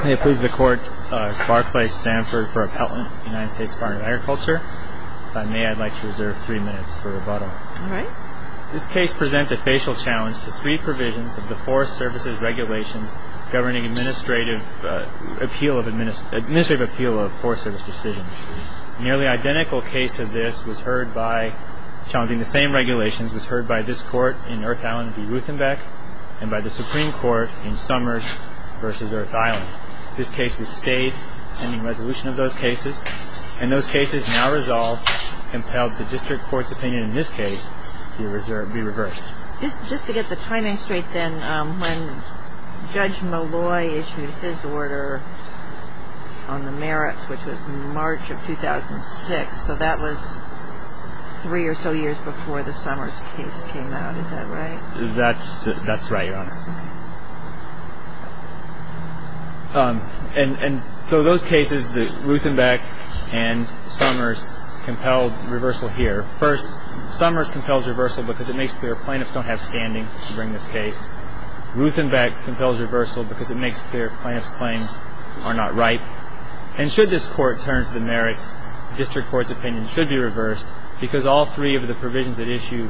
I please the court Barclay-Samford v. Appelton, United States Department of Agriculture. If I may, I'd like to reserve three minutes for rebuttal. Alright. This case presents a facial challenge to three provisions of the Forest Services Regulations governing administrative appeal of forest service decisions. A nearly identical case to this was heard by, challenging the same regulations, was heard by this court in Earth Island v. Rutenbeck and by the Supreme Court in Summers v. Earth Island. This case was stayed pending resolution of those cases and those cases now resolved compelled the district court's opinion in this case to be reversed. Just to get the timing straight then, when Judge Malloy issued his order on the merits, which was March of 2006, so that was three or so years before the Summers case came out. Is that right? That's right, Your Honor. And so those cases, the Rutenbeck and Summers compelled reversal here. First, Summers compels reversal because it makes clear plaintiffs don't have standing during this case. Rutenbeck compels reversal because it makes clear plaintiffs' claims are not right. And should this court turn to the merits, district court's opinion should be reversed because all three of the provisions at issue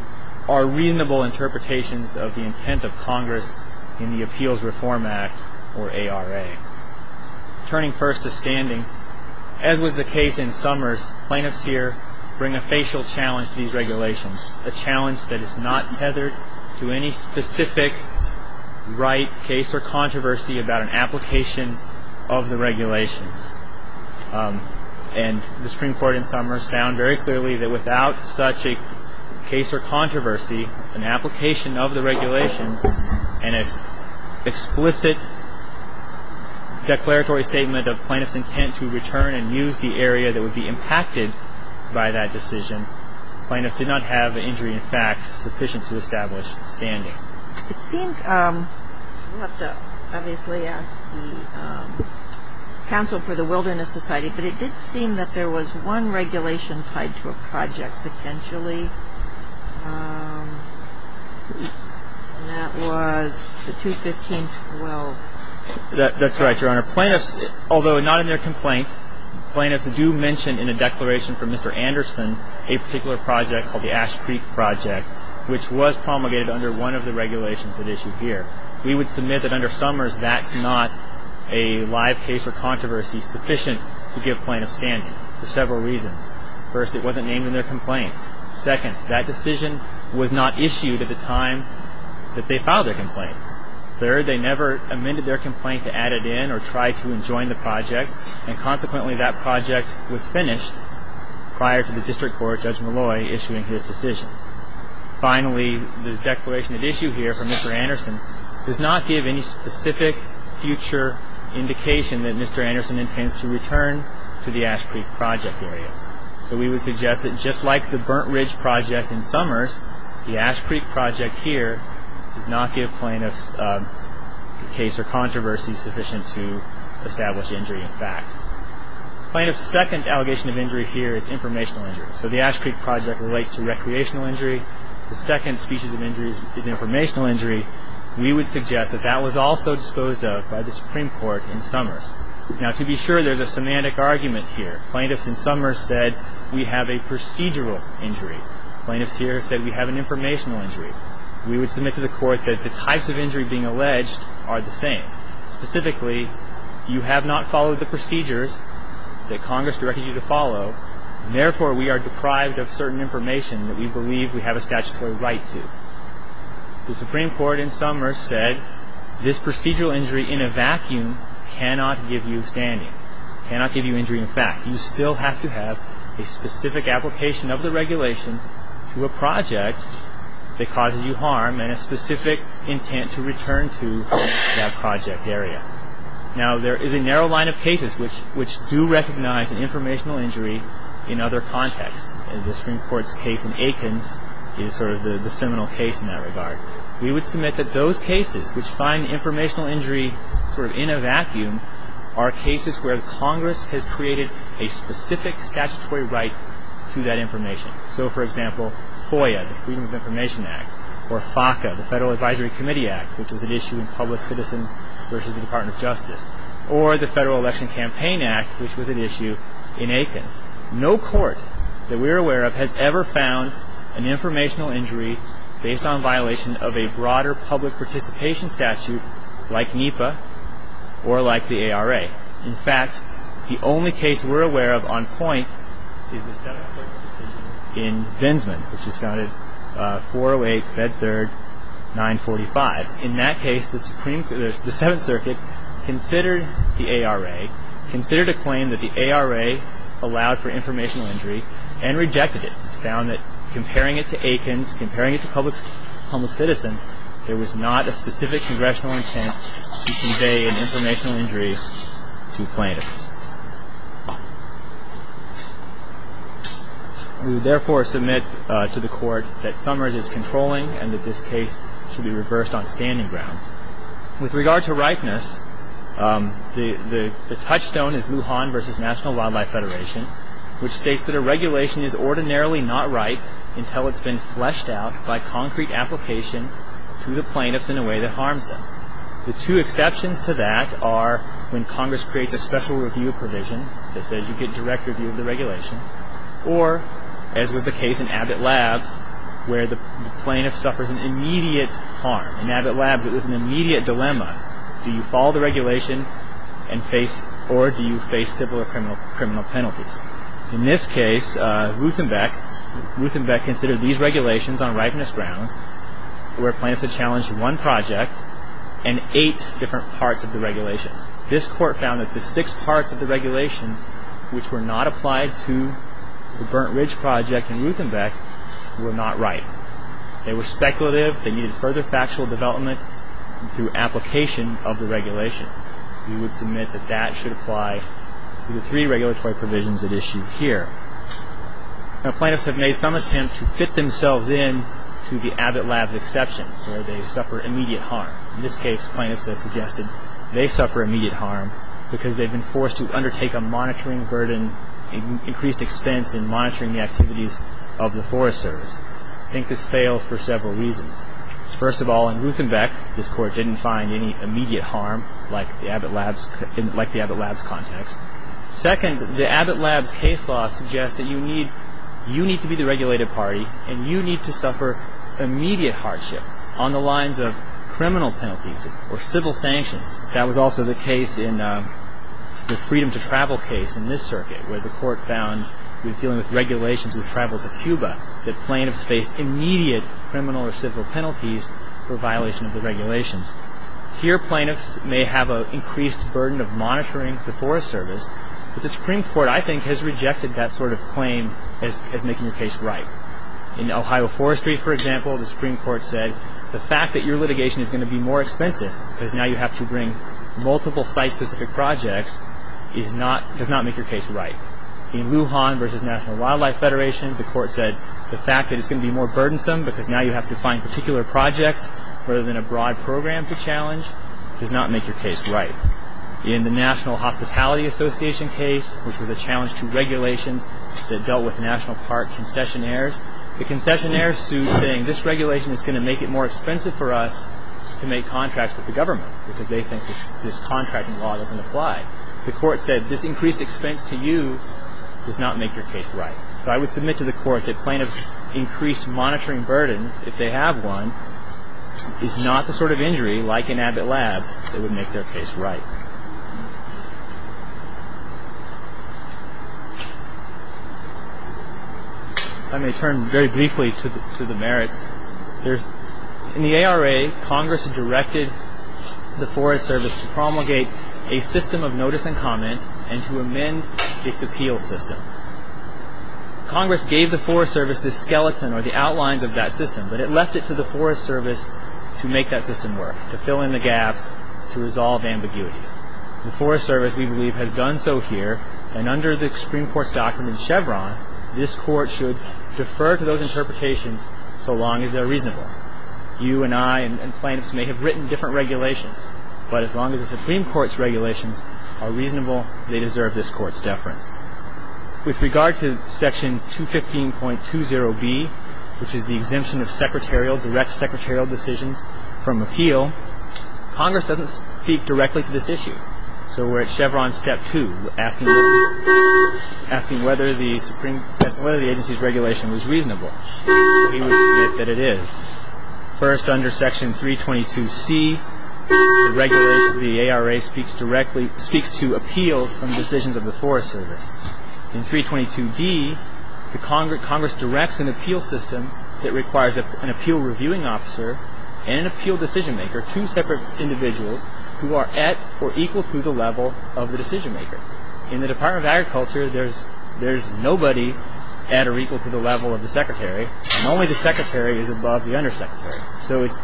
are reasonable interpretations of the intent of Congress in the Appeals Reform Act, or ARA. Turning first to standing, as was the case in Summers, plaintiffs here bring a facial challenge to these regulations, a challenge that is not tethered to any specific right, case, or controversy about an application of the regulations. And the Supreme Court in Summers found very clearly that without such a case or controversy, an application of the regulations, and an explicit declaratory statement of plaintiffs' intent to return and use the area that would be impacted by that decision, plaintiffs did not have an injury in fact sufficient to establish standing. It seemed, we'll have to obviously ask the Council for the Wilderness Society, but it did seem that there was one regulation tied to a project potentially, and that was the 215-12. That's right, Your Honor. Plaintiffs, although not in their complaint, plaintiffs do mention in a declaration from Mr. Anderson a particular project called the Ash Creek Project, which was promulgated under one of the regulations at issue here. We would submit that under Summers, that's not a live case or controversy sufficient to give plaintiffs standing for several reasons. First, it wasn't named in their complaint. Second, that decision was not issued at the time that they filed their complaint. Third, they never amended their complaint to add it in or try to enjoin the project, and consequently that project was finished prior to the district court, Judge Malloy, issuing his decision. Finally, the declaration at issue here from Mr. Anderson does not give any specific future indication that Mr. Anderson intends to return to the Ash Creek Project area. So we would suggest that just like the Burnt Ridge Project in Summers, the Ash Creek Project here does not give plaintiffs a case or controversy sufficient to establish injury in fact. Plaintiffs' second allegation of injury here is informational injury. So the Ash Creek Project relates to recreational injury. The second species of injury is informational injury. We would suggest that that was also disposed of by the Supreme Court in Summers. Now, to be sure, there's a semantic argument here. Plaintiffs in Summers said we have a procedural injury. Plaintiffs here said we have an informational injury. We would submit to the court that the types of injury being alleged are the same. Specifically, you have not followed the procedures that Congress directed you to follow, and therefore we are deprived of certain information that we believe we have a statutory right to. The Supreme Court in Summers said this procedural injury in a vacuum cannot give you standing, cannot give you injury in fact. You still have to have a specific application of the regulation to a project that causes you harm and a specific intent to return to that project area. Now, there is a narrow line of cases which do recognize an informational injury in other contexts. The Supreme Court's case in Aikens is sort of the seminal case in that regard. We would submit that those cases which find informational injury sort of in a vacuum are cases where Congress has created a specific statutory right to that information. So, for example, FOIA, the Freedom of Information Act, or FACA, the Federal Advisory Committee Act, which was an issue in Public Citizen versus the Department of Justice, or the Federal Election Campaign Act, which was an issue in Aikens. No court that we're aware of has ever found an informational injury based on violation of a broader public participation statute like NEPA or like the ARA. In fact, the only case we're aware of on point is the Seventh Circuit's decision in Bensman, which was founded 408 Bed 3rd, 945. In that case, the Seventh Circuit considered the ARA, considered a claim that the ARA allowed for informational injury and rejected it. Found that comparing it to Aikens, comparing it to Public Citizen, there was not a specific congressional intent to convey an informational injury to plaintiffs. We would therefore submit to the Court that Summers is controlling and that this case should be reversed on standing grounds. With regard to ripeness, the touchstone is Lujan versus National Wildlife Federation, which states that a regulation is ordinarily not right until it's been fleshed out by concrete application to the plaintiffs in a way that harms them. The two exceptions to that are when Congress creates a special review provision that says you get direct review of the regulation, or, as was the case in Abbott Labs, where the plaintiff suffers an immediate harm. In Abbott Labs, it was an immediate dilemma. Do you follow the regulation or do you face civil or criminal penalties? In this case, Ruthenbeck considered these regulations on ripeness grounds where plaintiffs had challenged one project and eight different parts of the regulations. This Court found that the six parts of the regulations which were not applied to the Burnt Ridge Project in Ruthenbeck were not right. They were speculative. They needed further factual development through application of the regulation. We would submit that that should apply to the three regulatory provisions at issue here. Now, plaintiffs have made some attempts to fit themselves in to the Abbott Labs exception where they suffer immediate harm. In this case, plaintiffs have suggested they suffer immediate harm because they've been forced to undertake a monitoring burden, increased expense in monitoring the activities of the Forest Service. I think this fails for several reasons. First of all, in Ruthenbeck, this Court didn't find any immediate harm like the Abbott Labs context. Second, the Abbott Labs case law suggests that you need to be the regulated party and you need to suffer immediate hardship on the lines of criminal penalties or civil sanctions. That was also the case in the Freedom to Travel case in this circuit where the Court found in dealing with regulations with travel to Cuba that plaintiffs faced immediate criminal or civil penalties for violation of the regulations. Here, plaintiffs may have an increased burden of monitoring the Forest Service, but the Supreme Court, I think, has rejected that sort of claim as making your case right. In Ohio Forestry, for example, the Supreme Court said the fact that your litigation is going to be more expensive because now you have to bring multiple site-specific projects does not make your case right. In Lujan v. National Wildlife Federation, the Court said the fact that it's going to be more burdensome because now you have to find particular projects rather than a broad program to challenge does not make your case right. In the National Hospitality Association case, which was a challenge to regulations that dealt with National Park concessionaires, the concessionaires sued saying this regulation is going to make it more expensive for us to make contracts with the government because they think this contracting law doesn't apply. The Court said this increased expense to you does not make your case right. So I would submit to the Court that plaintiffs' increased monitoring burden, if they have one, is not the sort of injury, like in Abbott Labs, that would make their case right. Let me turn very briefly to the merits. In the ARA, Congress directed the Forest Service to promulgate a system of notice and comment and to amend its appeals system. Congress gave the Forest Service this skeleton or the outlines of that system, but it left it to the Forest Service to make that system work, to fill in the gaps, to resolve ambiguities. The Forest Service, we believe, has done so here, and under the Supreme Court's doctrine in Chevron, this Court should defer to those interpretations so long as they're reasonable. You and I and plaintiffs may have written different regulations, but as long as the Supreme Court's regulations are reasonable, they deserve this Court's deference. With regard to Section 215.20B, which is the exemption of direct secretarial decisions from appeal, Congress doesn't speak directly to this issue. So we're at Chevron Step 2, asking whether the agency's regulation was reasonable. He would state that it is. First, under Section 322C, the ARA speaks to appeals from decisions of the Forest Service. In 322D, Congress directs an appeal system that requires an appeal reviewing officer and an appeal decision maker, two separate individuals, who are at or equal to the level of the decision maker. In the Department of Agriculture, there's nobody at or equal to the level of the secretary, and only the secretary is above the undersecretary. So it's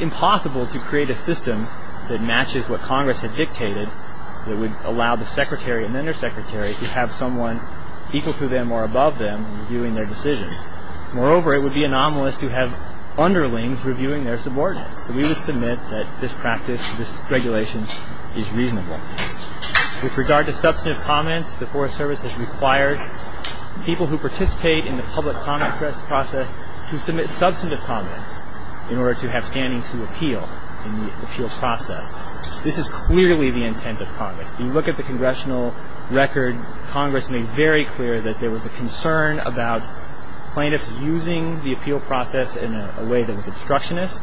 impossible to create a system that matches what Congress had dictated, that would allow the secretary and the undersecretary to have someone equal to them or above them reviewing their decisions. Moreover, it would be anomalous to have underlings reviewing their subordinates. So we would submit that this practice, this regulation, is reasonable. With regard to substantive comments, the Forest Service has required people who participate in the public comment process to submit substantive comments in order to have standing to appeal in the appeal process. This is clearly the intent of Congress. When you look at the congressional record, Congress made very clear that there was a concern about plaintiffs using the appeal process in a way that was obstructionist.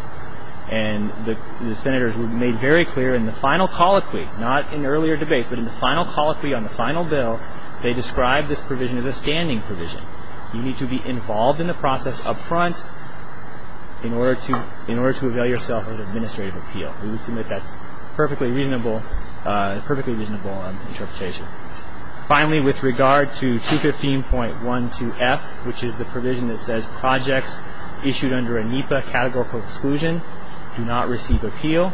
And the senators made very clear in the final colloquy, not in earlier debates, but in the final colloquy on the final bill, they described this provision as a standing provision. You need to be involved in the process up front in order to avail yourself of an administrative appeal. We would submit that's a perfectly reasonable interpretation. Finally, with regard to 215.12F, which is the provision that says projects issued under a NEPA categorical exclusion do not receive appeal,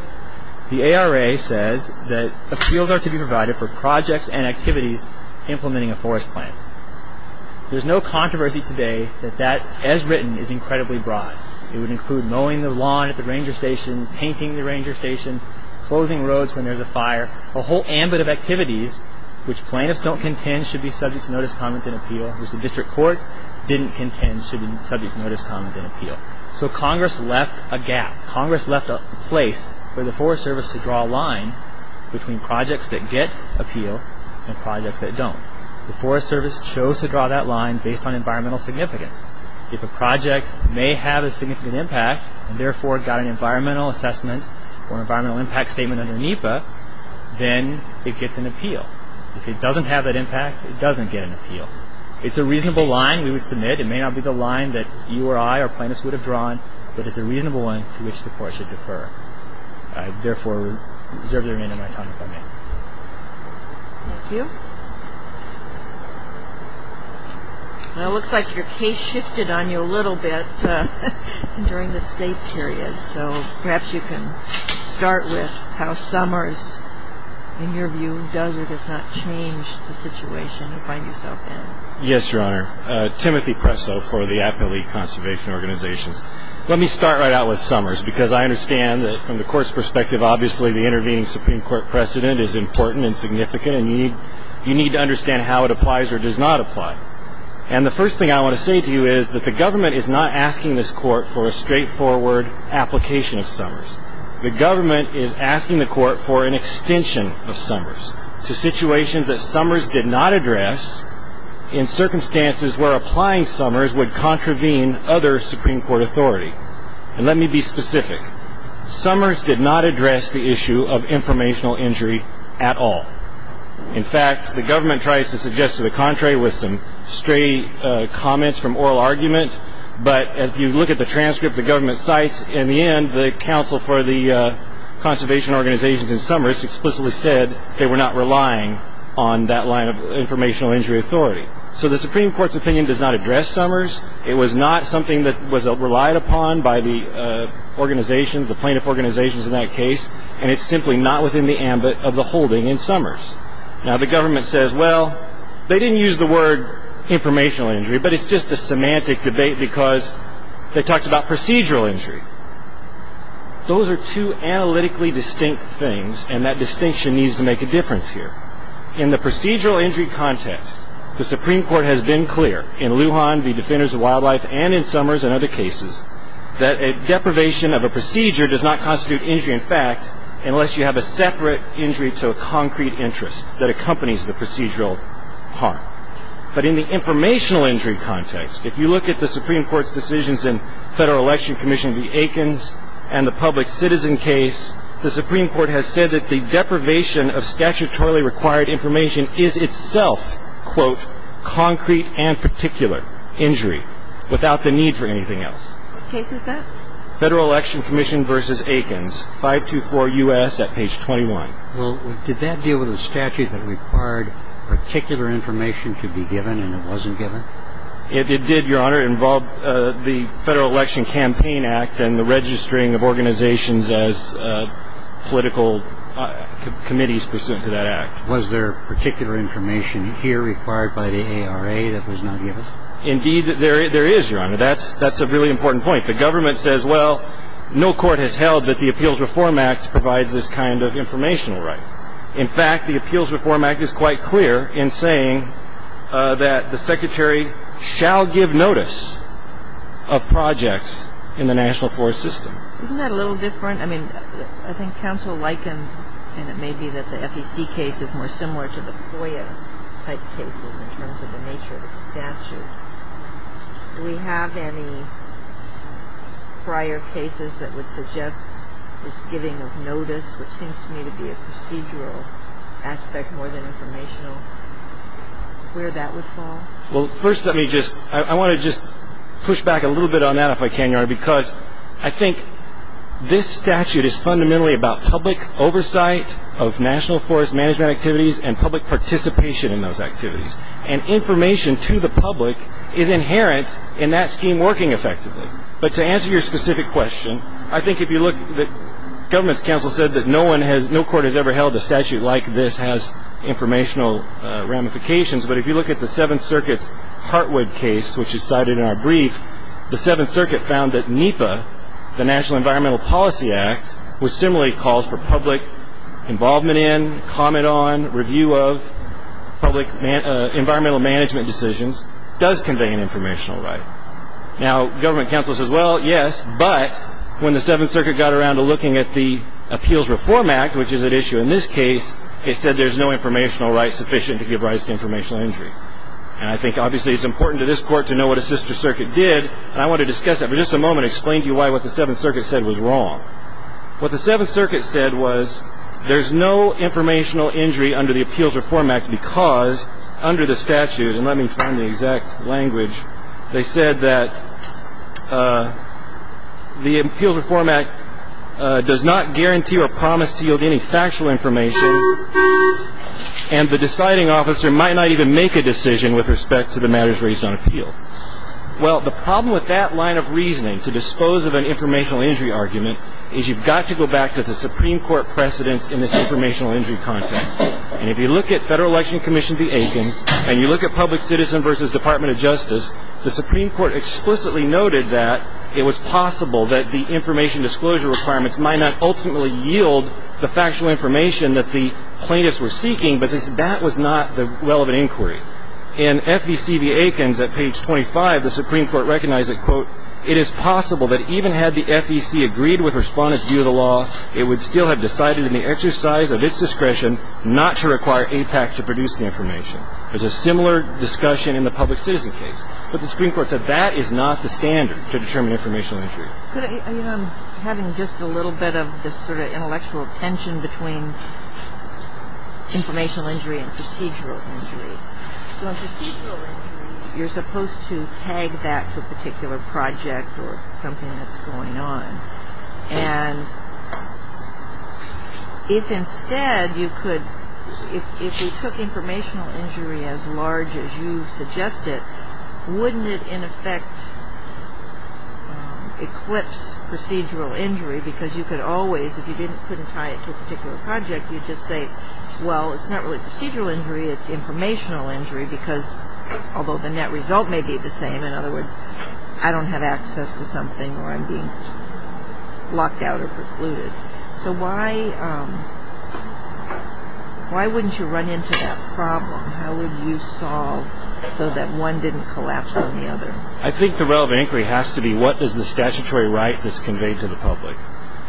the ARA says that appeals are to be provided for projects and activities implementing a forest plan. There's no controversy today that that, as written, is incredibly broad. It would include mowing the lawn at the ranger station, painting the ranger station, closing roads when there's a fire, a whole ambit of activities, which plaintiffs don't contend should be subject to notice, comment, and appeal, which the district court didn't contend should be subject to notice, comment, and appeal. So Congress left a gap. Congress left a place for the Forest Service to draw a line between projects that get appeal and projects that don't. The Forest Service chose to draw that line based on environmental significance. If a project may have a significant impact and therefore got an environmental assessment or environmental impact statement under NEPA, then it gets an appeal. If it doesn't have that impact, it doesn't get an appeal. It's a reasonable line we would submit. It may not be the line that you or I or plaintiffs would have drawn, but it's a reasonable one to which the court should defer. I therefore reserve the remainder of my time if I may. Thank you. Well, it looks like your case shifted on you a little bit during the state period, so perhaps you can start with how Summers, in your view, does or does not change the situation you find yourself in. Yes, Your Honor. Timothy Presso for the Appalachian Conservation Organizations. Let me start right out with Summers because I understand that from the court's perspective, obviously the intervening Supreme Court precedent is important and significant, and you need to understand how it applies or does not apply. And the first thing I want to say to you is that the government is not asking this court for a straightforward application of Summers. The government is asking the court for an extension of Summers to situations that Summers did not address in circumstances where applying Summers would contravene other Supreme Court authority. And let me be specific. Summers did not address the issue of informational injury at all. In fact, the government tries to suggest to the contrary with some stray comments from oral argument, but if you look at the transcript the government cites, in the end the counsel for the conservation organizations in Summers explicitly said they were not relying on that line of informational injury authority. So the Supreme Court's opinion does not address Summers. It was not something that was relied upon by the organizations, the plaintiff organizations in that case, and it's simply not within the ambit of the holding in Summers. Now, the government says, well, they didn't use the word informational injury, but it's just a semantic debate because they talked about procedural injury. Those are two analytically distinct things, and that distinction needs to make a difference here. In the procedural injury context, the Supreme Court has been clear. In Lujan v. Defenders of Wildlife and in Summers and other cases, that a deprivation of a procedure does not constitute injury in fact unless you have a separate injury to a concrete interest that accompanies the procedural harm. But in the informational injury context, if you look at the Supreme Court's decisions in Federal Election Commission v. Aikens and the public citizen case, the Supreme Court has said that the deprivation of statutorily required information is itself, quote, concrete and particular injury without the need for anything else. What case is that? Federal Election Commission v. Aikens, 524 U.S. at page 21. Well, did that deal with a statute that required particular information to be given and it wasn't given? It did, Your Honor. It involved the Federal Election Campaign Act and the registering of organizations as political committees pursuant to that act. Was there particular information here required by the ARA that was not given? Indeed, there is, Your Honor. That's a really important point. The government says, well, no court has held that the Appeals Reform Act provides this kind of informational right. In fact, the Appeals Reform Act is quite clear in saying that the Secretary shall give notice of projects in the national forest system. Isn't that a little different? I mean, I think counsel likened, and it may be that the FEC case is more similar to the FOIA-type cases in terms of the nature of the statute. Do we have any prior cases that would suggest this giving of notice, which seems to me to be a procedural aspect more than informational, where that would fall? Well, first let me just ‑‑ I want to just push back a little bit on that, if I can, Your Honor, because I think this statute is fundamentally about public oversight of national forest management activities and public participation in those activities. And information to the public is inherent in that scheme working effectively. But to answer your specific question, I think if you look, the government's counsel said that no court has ever held a statute like this has informational ramifications. But if you look at the Seventh Circuit's Heartwood case, which is cited in our brief, the Seventh Circuit found that NEPA, the National Environmental Policy Act, which similarly calls for public involvement in, comment on, review of, public environmental management decisions, does convey an informational right. Now, government counsel says, well, yes, but when the Seventh Circuit got around to looking at the Appeals Reform Act, which is at issue in this case, it said there's no informational right sufficient to give rise to informational injury. And I think obviously it's important to this court to know what a sister circuit did, and I want to discuss that for just a moment and explain to you why what the Seventh Circuit said was wrong. What the Seventh Circuit said was there's no informational injury under the Appeals Reform Act because under the statute, and let me find the exact language, they said that the Appeals Reform Act does not guarantee or promise to yield any factual information, and the deciding officer might not even make a decision with respect to the matters raised on appeal. Well, the problem with that line of reasoning, to dispose of an informational injury argument, is you've got to go back to the Supreme Court precedents in this informational injury context. And if you look at Federal Election Commission v. Aikens, and you look at Public Citizen v. Department of Justice, the Supreme Court explicitly noted that it was possible that the information disclosure requirements might not ultimately yield the factual information that the plaintiffs were seeking, but that was not the relevant inquiry. In FEC v. Aikens at page 25, the Supreme Court recognized that, quote, it is possible that even had the FEC agreed with Respondent's view of the law, it would still have decided in the exercise of its discretion not to require APAC to produce the information. There's a similar discussion in the Public Citizen case. But the Supreme Court said that is not the standard to determine informational injury. You know, I'm having just a little bit of this sort of intellectual tension between informational injury and procedural injury. So in procedural injury, you're supposed to tag that to a particular project or something that's going on. And if instead you could, if you took informational injury as large as you suggested, wouldn't it in effect eclipse procedural injury? Because you could always, if you couldn't tie it to a particular project, you'd just say, well, it's not really procedural injury, it's informational injury because, although the net result may be the same, in other words, I don't have access to something or I'm being blocked out or precluded. So why wouldn't you run into that problem? How would you solve so that one didn't collapse on the other? I think the relevant inquiry has to be what is the statutory right that's conveyed to the public.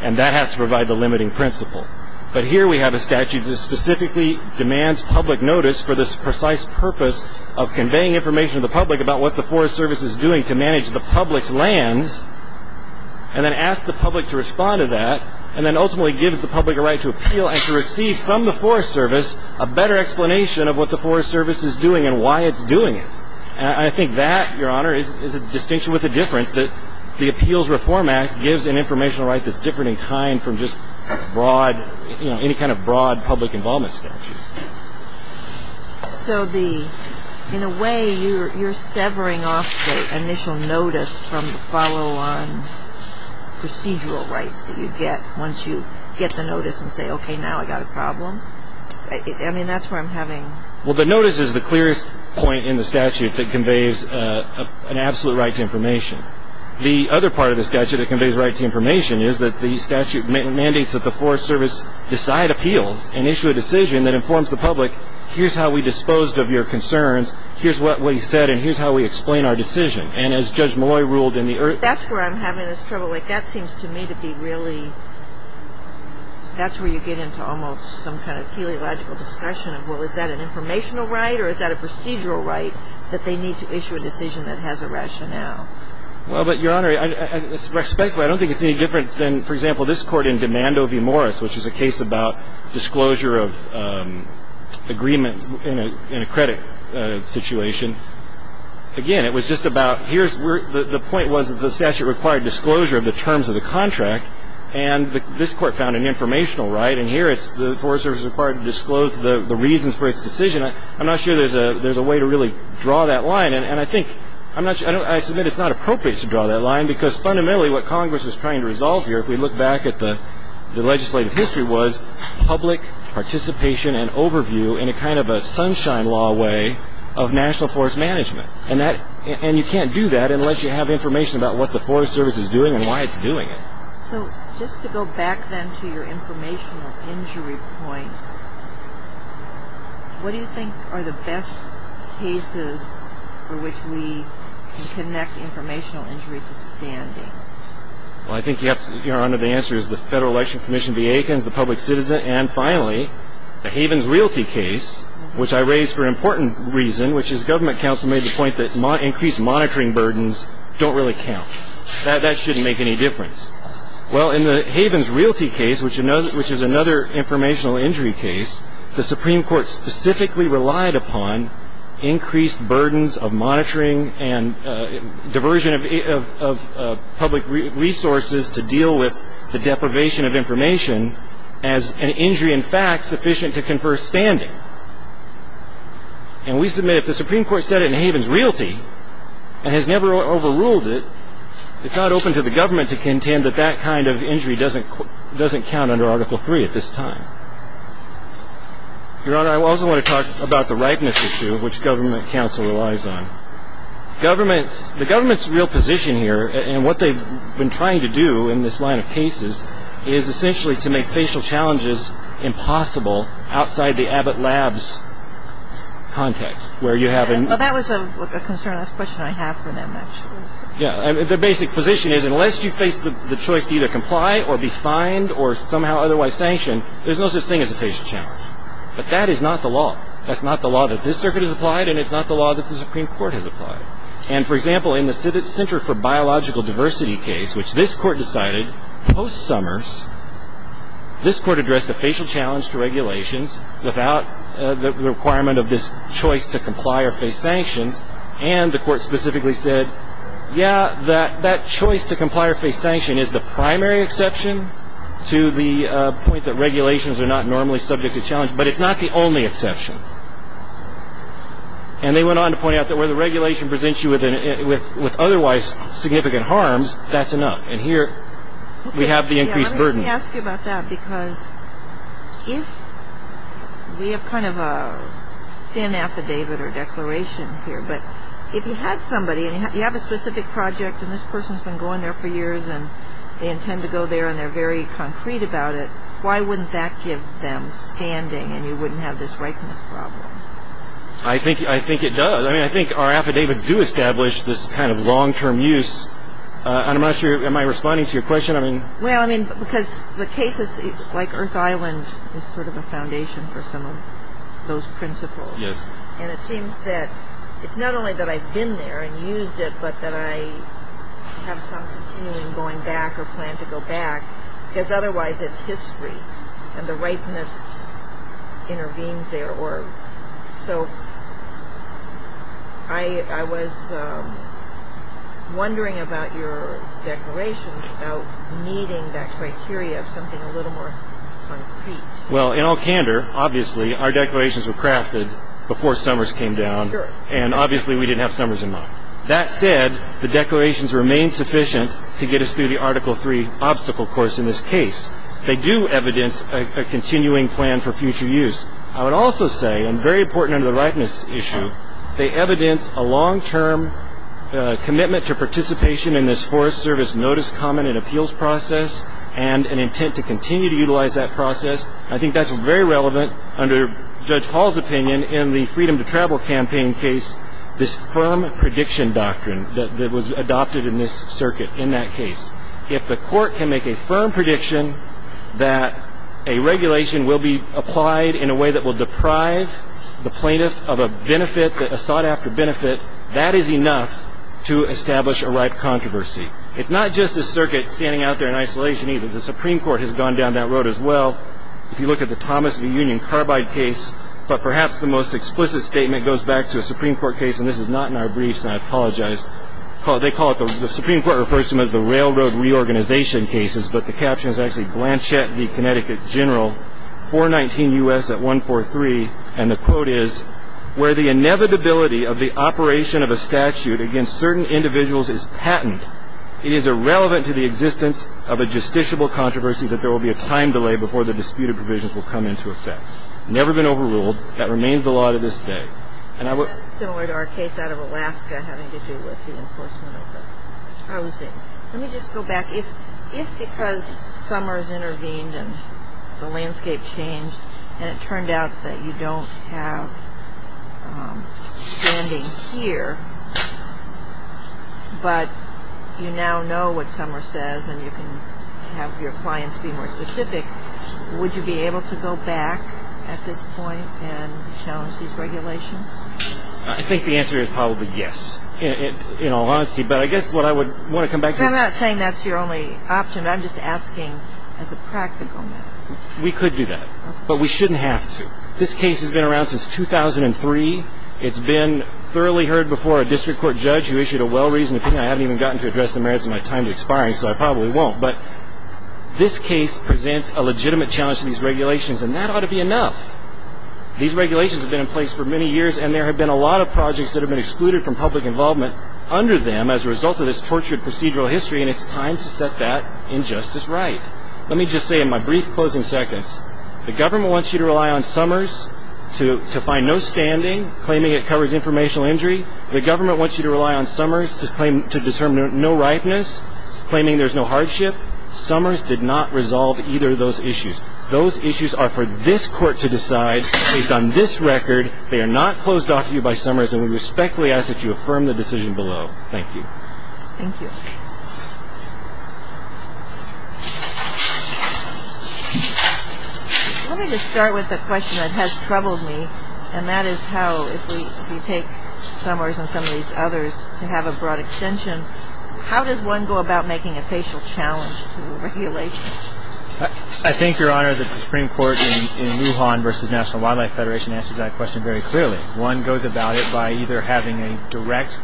And that has to provide the limiting principle. But here we have a statute that specifically demands public notice for this precise purpose of conveying information to the public about what the Forest Service is doing to manage the public's lands and then asks the public to respond to that and then ultimately gives the public a right to appeal and to receive from the Forest Service a better explanation of what the Forest Service is doing and why it's doing it. And I think that, Your Honor, is a distinction with a difference, that the Appeals Reform Act gives an informational right that's different in kind from just broad, you know, any kind of broad public involvement statute. So the – in a way, you're severing off the initial notice from the follow-on procedural rights that you get once you get the notice and say, okay, now I've got a problem? I mean, that's where I'm having – Well, the notice is the clearest point in the statute that conveys an absolute right to information. The other part of the statute that conveys a right to information is that the statute mandates that the Forest Service decide appeals and issue a decision that informs the public, here's how we disposed of your concerns, here's what we said, and here's how we explain our decision. And as Judge Malloy ruled in the – That's where I'm having this trouble. Like, that seems to me to be really – that's where you get into almost some kind of teleological discussion of, well, is that an informational right or is that a procedural right that they need to issue a decision that has a rationale? Well, but, Your Honor, respectfully, I don't think it's any different than, for example, this Court in Demando v. Morris, which is a case about disclosure of agreement in a credit situation. Again, it was just about – here's – the point was that the statute required disclosure of the terms of the contract, and this Court found an informational right, and here it's – the Forest Service is required to disclose the reasons for its decision. I'm not sure there's a way to really draw that line, and I think – I'm not – I submit it's not appropriate to draw that line because fundamentally what Congress is trying to resolve here, if we look back at the legislative history, was public participation and overview in a kind of a sunshine law way of national forest management, and that – and you can't do that unless you have information about what the Forest Service is doing and why it's doing it. So just to go back, then, to your informational injury point, what do you think are the best cases for which we can connect informational injury to standing? Well, I think, Your Honor, the answer is the Federal Election Commission v. Aikens, the public citizen, and finally, the Havens Realty case, which I raise for an important reason, which is government counsel made the point that increased monitoring burdens don't really count. That shouldn't make any difference. Well, in the Havens Realty case, which is another informational injury case, the Supreme Court specifically relied upon increased burdens of monitoring and diversion of public resources to deal with the deprivation of information as an injury, in fact, sufficient to confer standing. And we submit if the Supreme Court set it in Havens Realty and has never overruled it, it's not open to the government to contend that that kind of injury doesn't count under Article III at this time. Your Honor, I also want to talk about the ripeness issue, which government counsel relies on. The government's real position here, and what they've been trying to do in this line of cases, is essentially to make facial challenges impossible outside the Abbott Labs context, where you have an ‑‑ Well, that was a concern. That's a question I have for them, actually. The basic position is unless you face the choice to either comply or be fined or somehow otherwise sanctioned, there's no such thing as a facial challenge. But that is not the law. That's not the law that this Circuit has applied, and it's not the law that the Supreme Court has applied. And, for example, in the Center for Biological Diversity case, which this Court decided, post Summers, this Court addressed a facial challenge to regulations without the requirement of this choice to comply or face sanctions, and the Court specifically said, yeah, that choice to comply or face sanction is the primary exception to the point that regulations are not normally subject to challenge, but it's not the only exception. And they went on to point out that where the regulation presents you with otherwise significant harms, that's enough. And here we have the increased burden. Let me ask you about that, because if we have kind of a thin affidavit or declaration here, but if you had somebody, and you have a specific project, and this person's been going there for years, and they intend to go there, and they're very concrete about it, why wouldn't that give them standing and you wouldn't have this ripeness problem? I think it does. I mean, I think our affidavits do establish this kind of long-term use. I'm not sure, am I responding to your question? Well, I mean, because the cases, like Earth Island, is sort of a foundation for some of those principles. Yes. And it seems that it's not only that I've been there and used it, but that I have some continuing going back or plan to go back, because otherwise it's history, and the ripeness intervenes there. So I was wondering about your declaration about meeting that criteria of something a little more concrete. Well, in all candor, obviously, our declarations were crafted before summers came down, and obviously we didn't have summers in mind. That said, the declarations remain sufficient to get us through the Article III obstacle course in this case. They do evidence a continuing plan for future use. I would also say, and very important under the ripeness issue, they evidence a long-term commitment to participation in this Forest Service Notice, Comment, and Appeals process, and an intent to continue to utilize that process. I think that's very relevant under Judge Hall's opinion in the Freedom to Travel Campaign case, this firm prediction doctrine that was adopted in this circuit in that case. If the court can make a firm prediction that a regulation will be applied in a way that will deprive the plaintiff of a benefit, a sought-after benefit, that is enough to establish a ripe controversy. It's not just this circuit standing out there in isolation, either. The Supreme Court has gone down that road as well. If you look at the Thomas v. Union carbide case, but perhaps the most explicit statement goes back to a Supreme Court case, and this is not in our briefs, and I apologize. They call it, the Supreme Court refers to them as the railroad reorganization cases, but the caption is actually Blanchett v. Connecticut General, 419 U.S. at 143, and the quote is, where the inevitability of the operation of a statute against certain individuals is patent, it is irrelevant to the existence of a justiciable controversy that there will be a time delay before the disputed provisions will come into effect. Never been overruled. That remains the law to this day. Similar to our case out of Alaska having to do with the enforcement of the housing. Let me just go back. If because Summers intervened and the landscape changed, and it turned out that you don't have standing here, but you now know what Summers says and you can have your clients be more specific, would you be able to go back at this point and challenge these regulations? I think the answer is probably yes, in all honesty. But I guess what I would want to come back to is. I'm not saying that's your only option. I'm just asking as a practical matter. We could do that, but we shouldn't have to. This case has been around since 2003. It's been thoroughly heard before a district court judge who issued a well-reasoned opinion. I haven't even gotten to address the merits of my time expiring, so I probably won't. But this case presents a legitimate challenge to these regulations, and that ought to be enough. These regulations have been in place for many years, and there have been a lot of projects that have been excluded from public involvement under them as a result of this tortured procedural history, and it's time to set that injustice right. Let me just say in my brief closing seconds, the government wants you to rely on Summers to find no standing, claiming it covers informational injury. The government wants you to rely on Summers to determine no ripeness, claiming there's no hardship. Summers did not resolve either of those issues. Those issues are for this court to decide. Based on this record, they are not closed off to you by Summers, and we respectfully ask that you affirm the decision below. Thank you. Thank you. Let me just start with the question that has troubled me, and that is how if we take Summers and some of these others to have a broad extension, how does one go about making a facial challenge to regulations? I think, Your Honor, that the Supreme Court in Wuhan versus National Wildlife Federation answers that question very clearly. One goes about it by either having a direct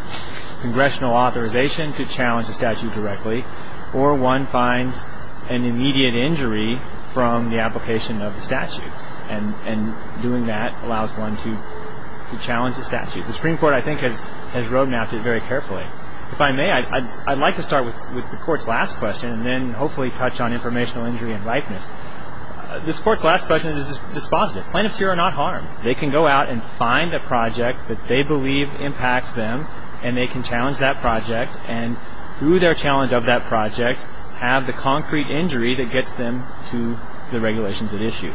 congressional authorization to challenge the statute directly, or one finds an immediate injury from the application of the statute, and doing that allows one to challenge the statute. The Supreme Court, I think, has road mapped it very carefully. If I may, I'd like to start with the Court's last question and then hopefully touch on informational injury and ripeness. This Court's last question is dispositive. Plaintiffs here are not harmed. They can go out and find a project that they believe impacts them, and they can challenge that project, and through their challenge of that project, have the concrete injury that gets them to the regulations at issue.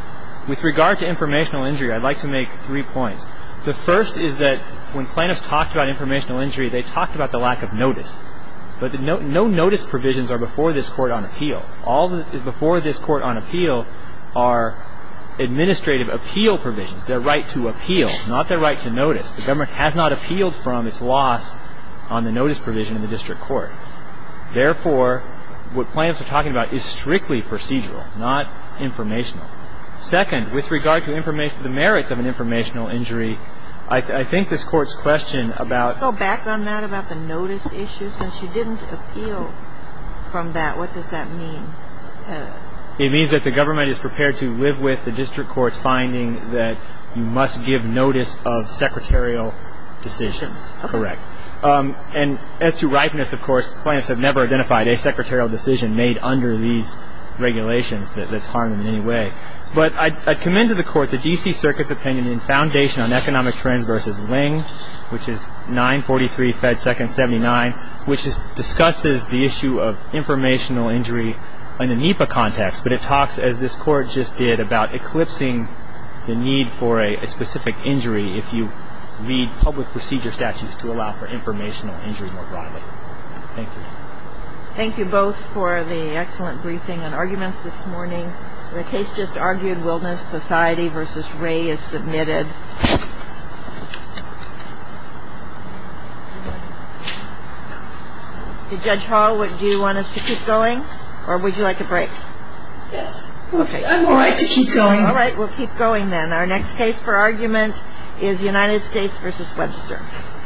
With regard to informational injury, I'd like to make three points. The first is that when plaintiffs talked about informational injury, they talked about the lack of notice. But no notice provisions are before this Court on appeal. All that is before this Court on appeal are administrative appeal provisions, their right to appeal, not their right to notice. The government has not appealed from its loss on the notice provision in the district court. Therefore, what plaintiffs are talking about is strictly procedural, not informational. Second, with regard to the merits of an informational injury, I think this Court's question about Can I go back on that about the notice issue? Since you didn't appeal from that, what does that mean? It means that the government is prepared to live with the district court's finding that you must give notice of secretarial decisions. Correct. And as to ripeness, of course, plaintiffs have never identified a secretarial decision made under these regulations that's harmed them in any way. But I commend to the Court the D.C. Circuit's opinion in foundation on Economic Trends v. Ling, which is 943 Fed Second 79, which discusses the issue of informational injury in the NEPA context. But it talks, as this Court just did, about eclipsing the need for a specific injury if you read public procedure statutes to allow for informational injury more broadly. Thank you. Thank you both for the excellent briefing and arguments this morning. The case just argued, Wilderness Society v. Ray, is submitted. Judge Hall, do you want us to keep going or would you like a break? Yes. I'm all right to keep going. All right. We'll keep going then. Our next case for argument is United States v. Webster.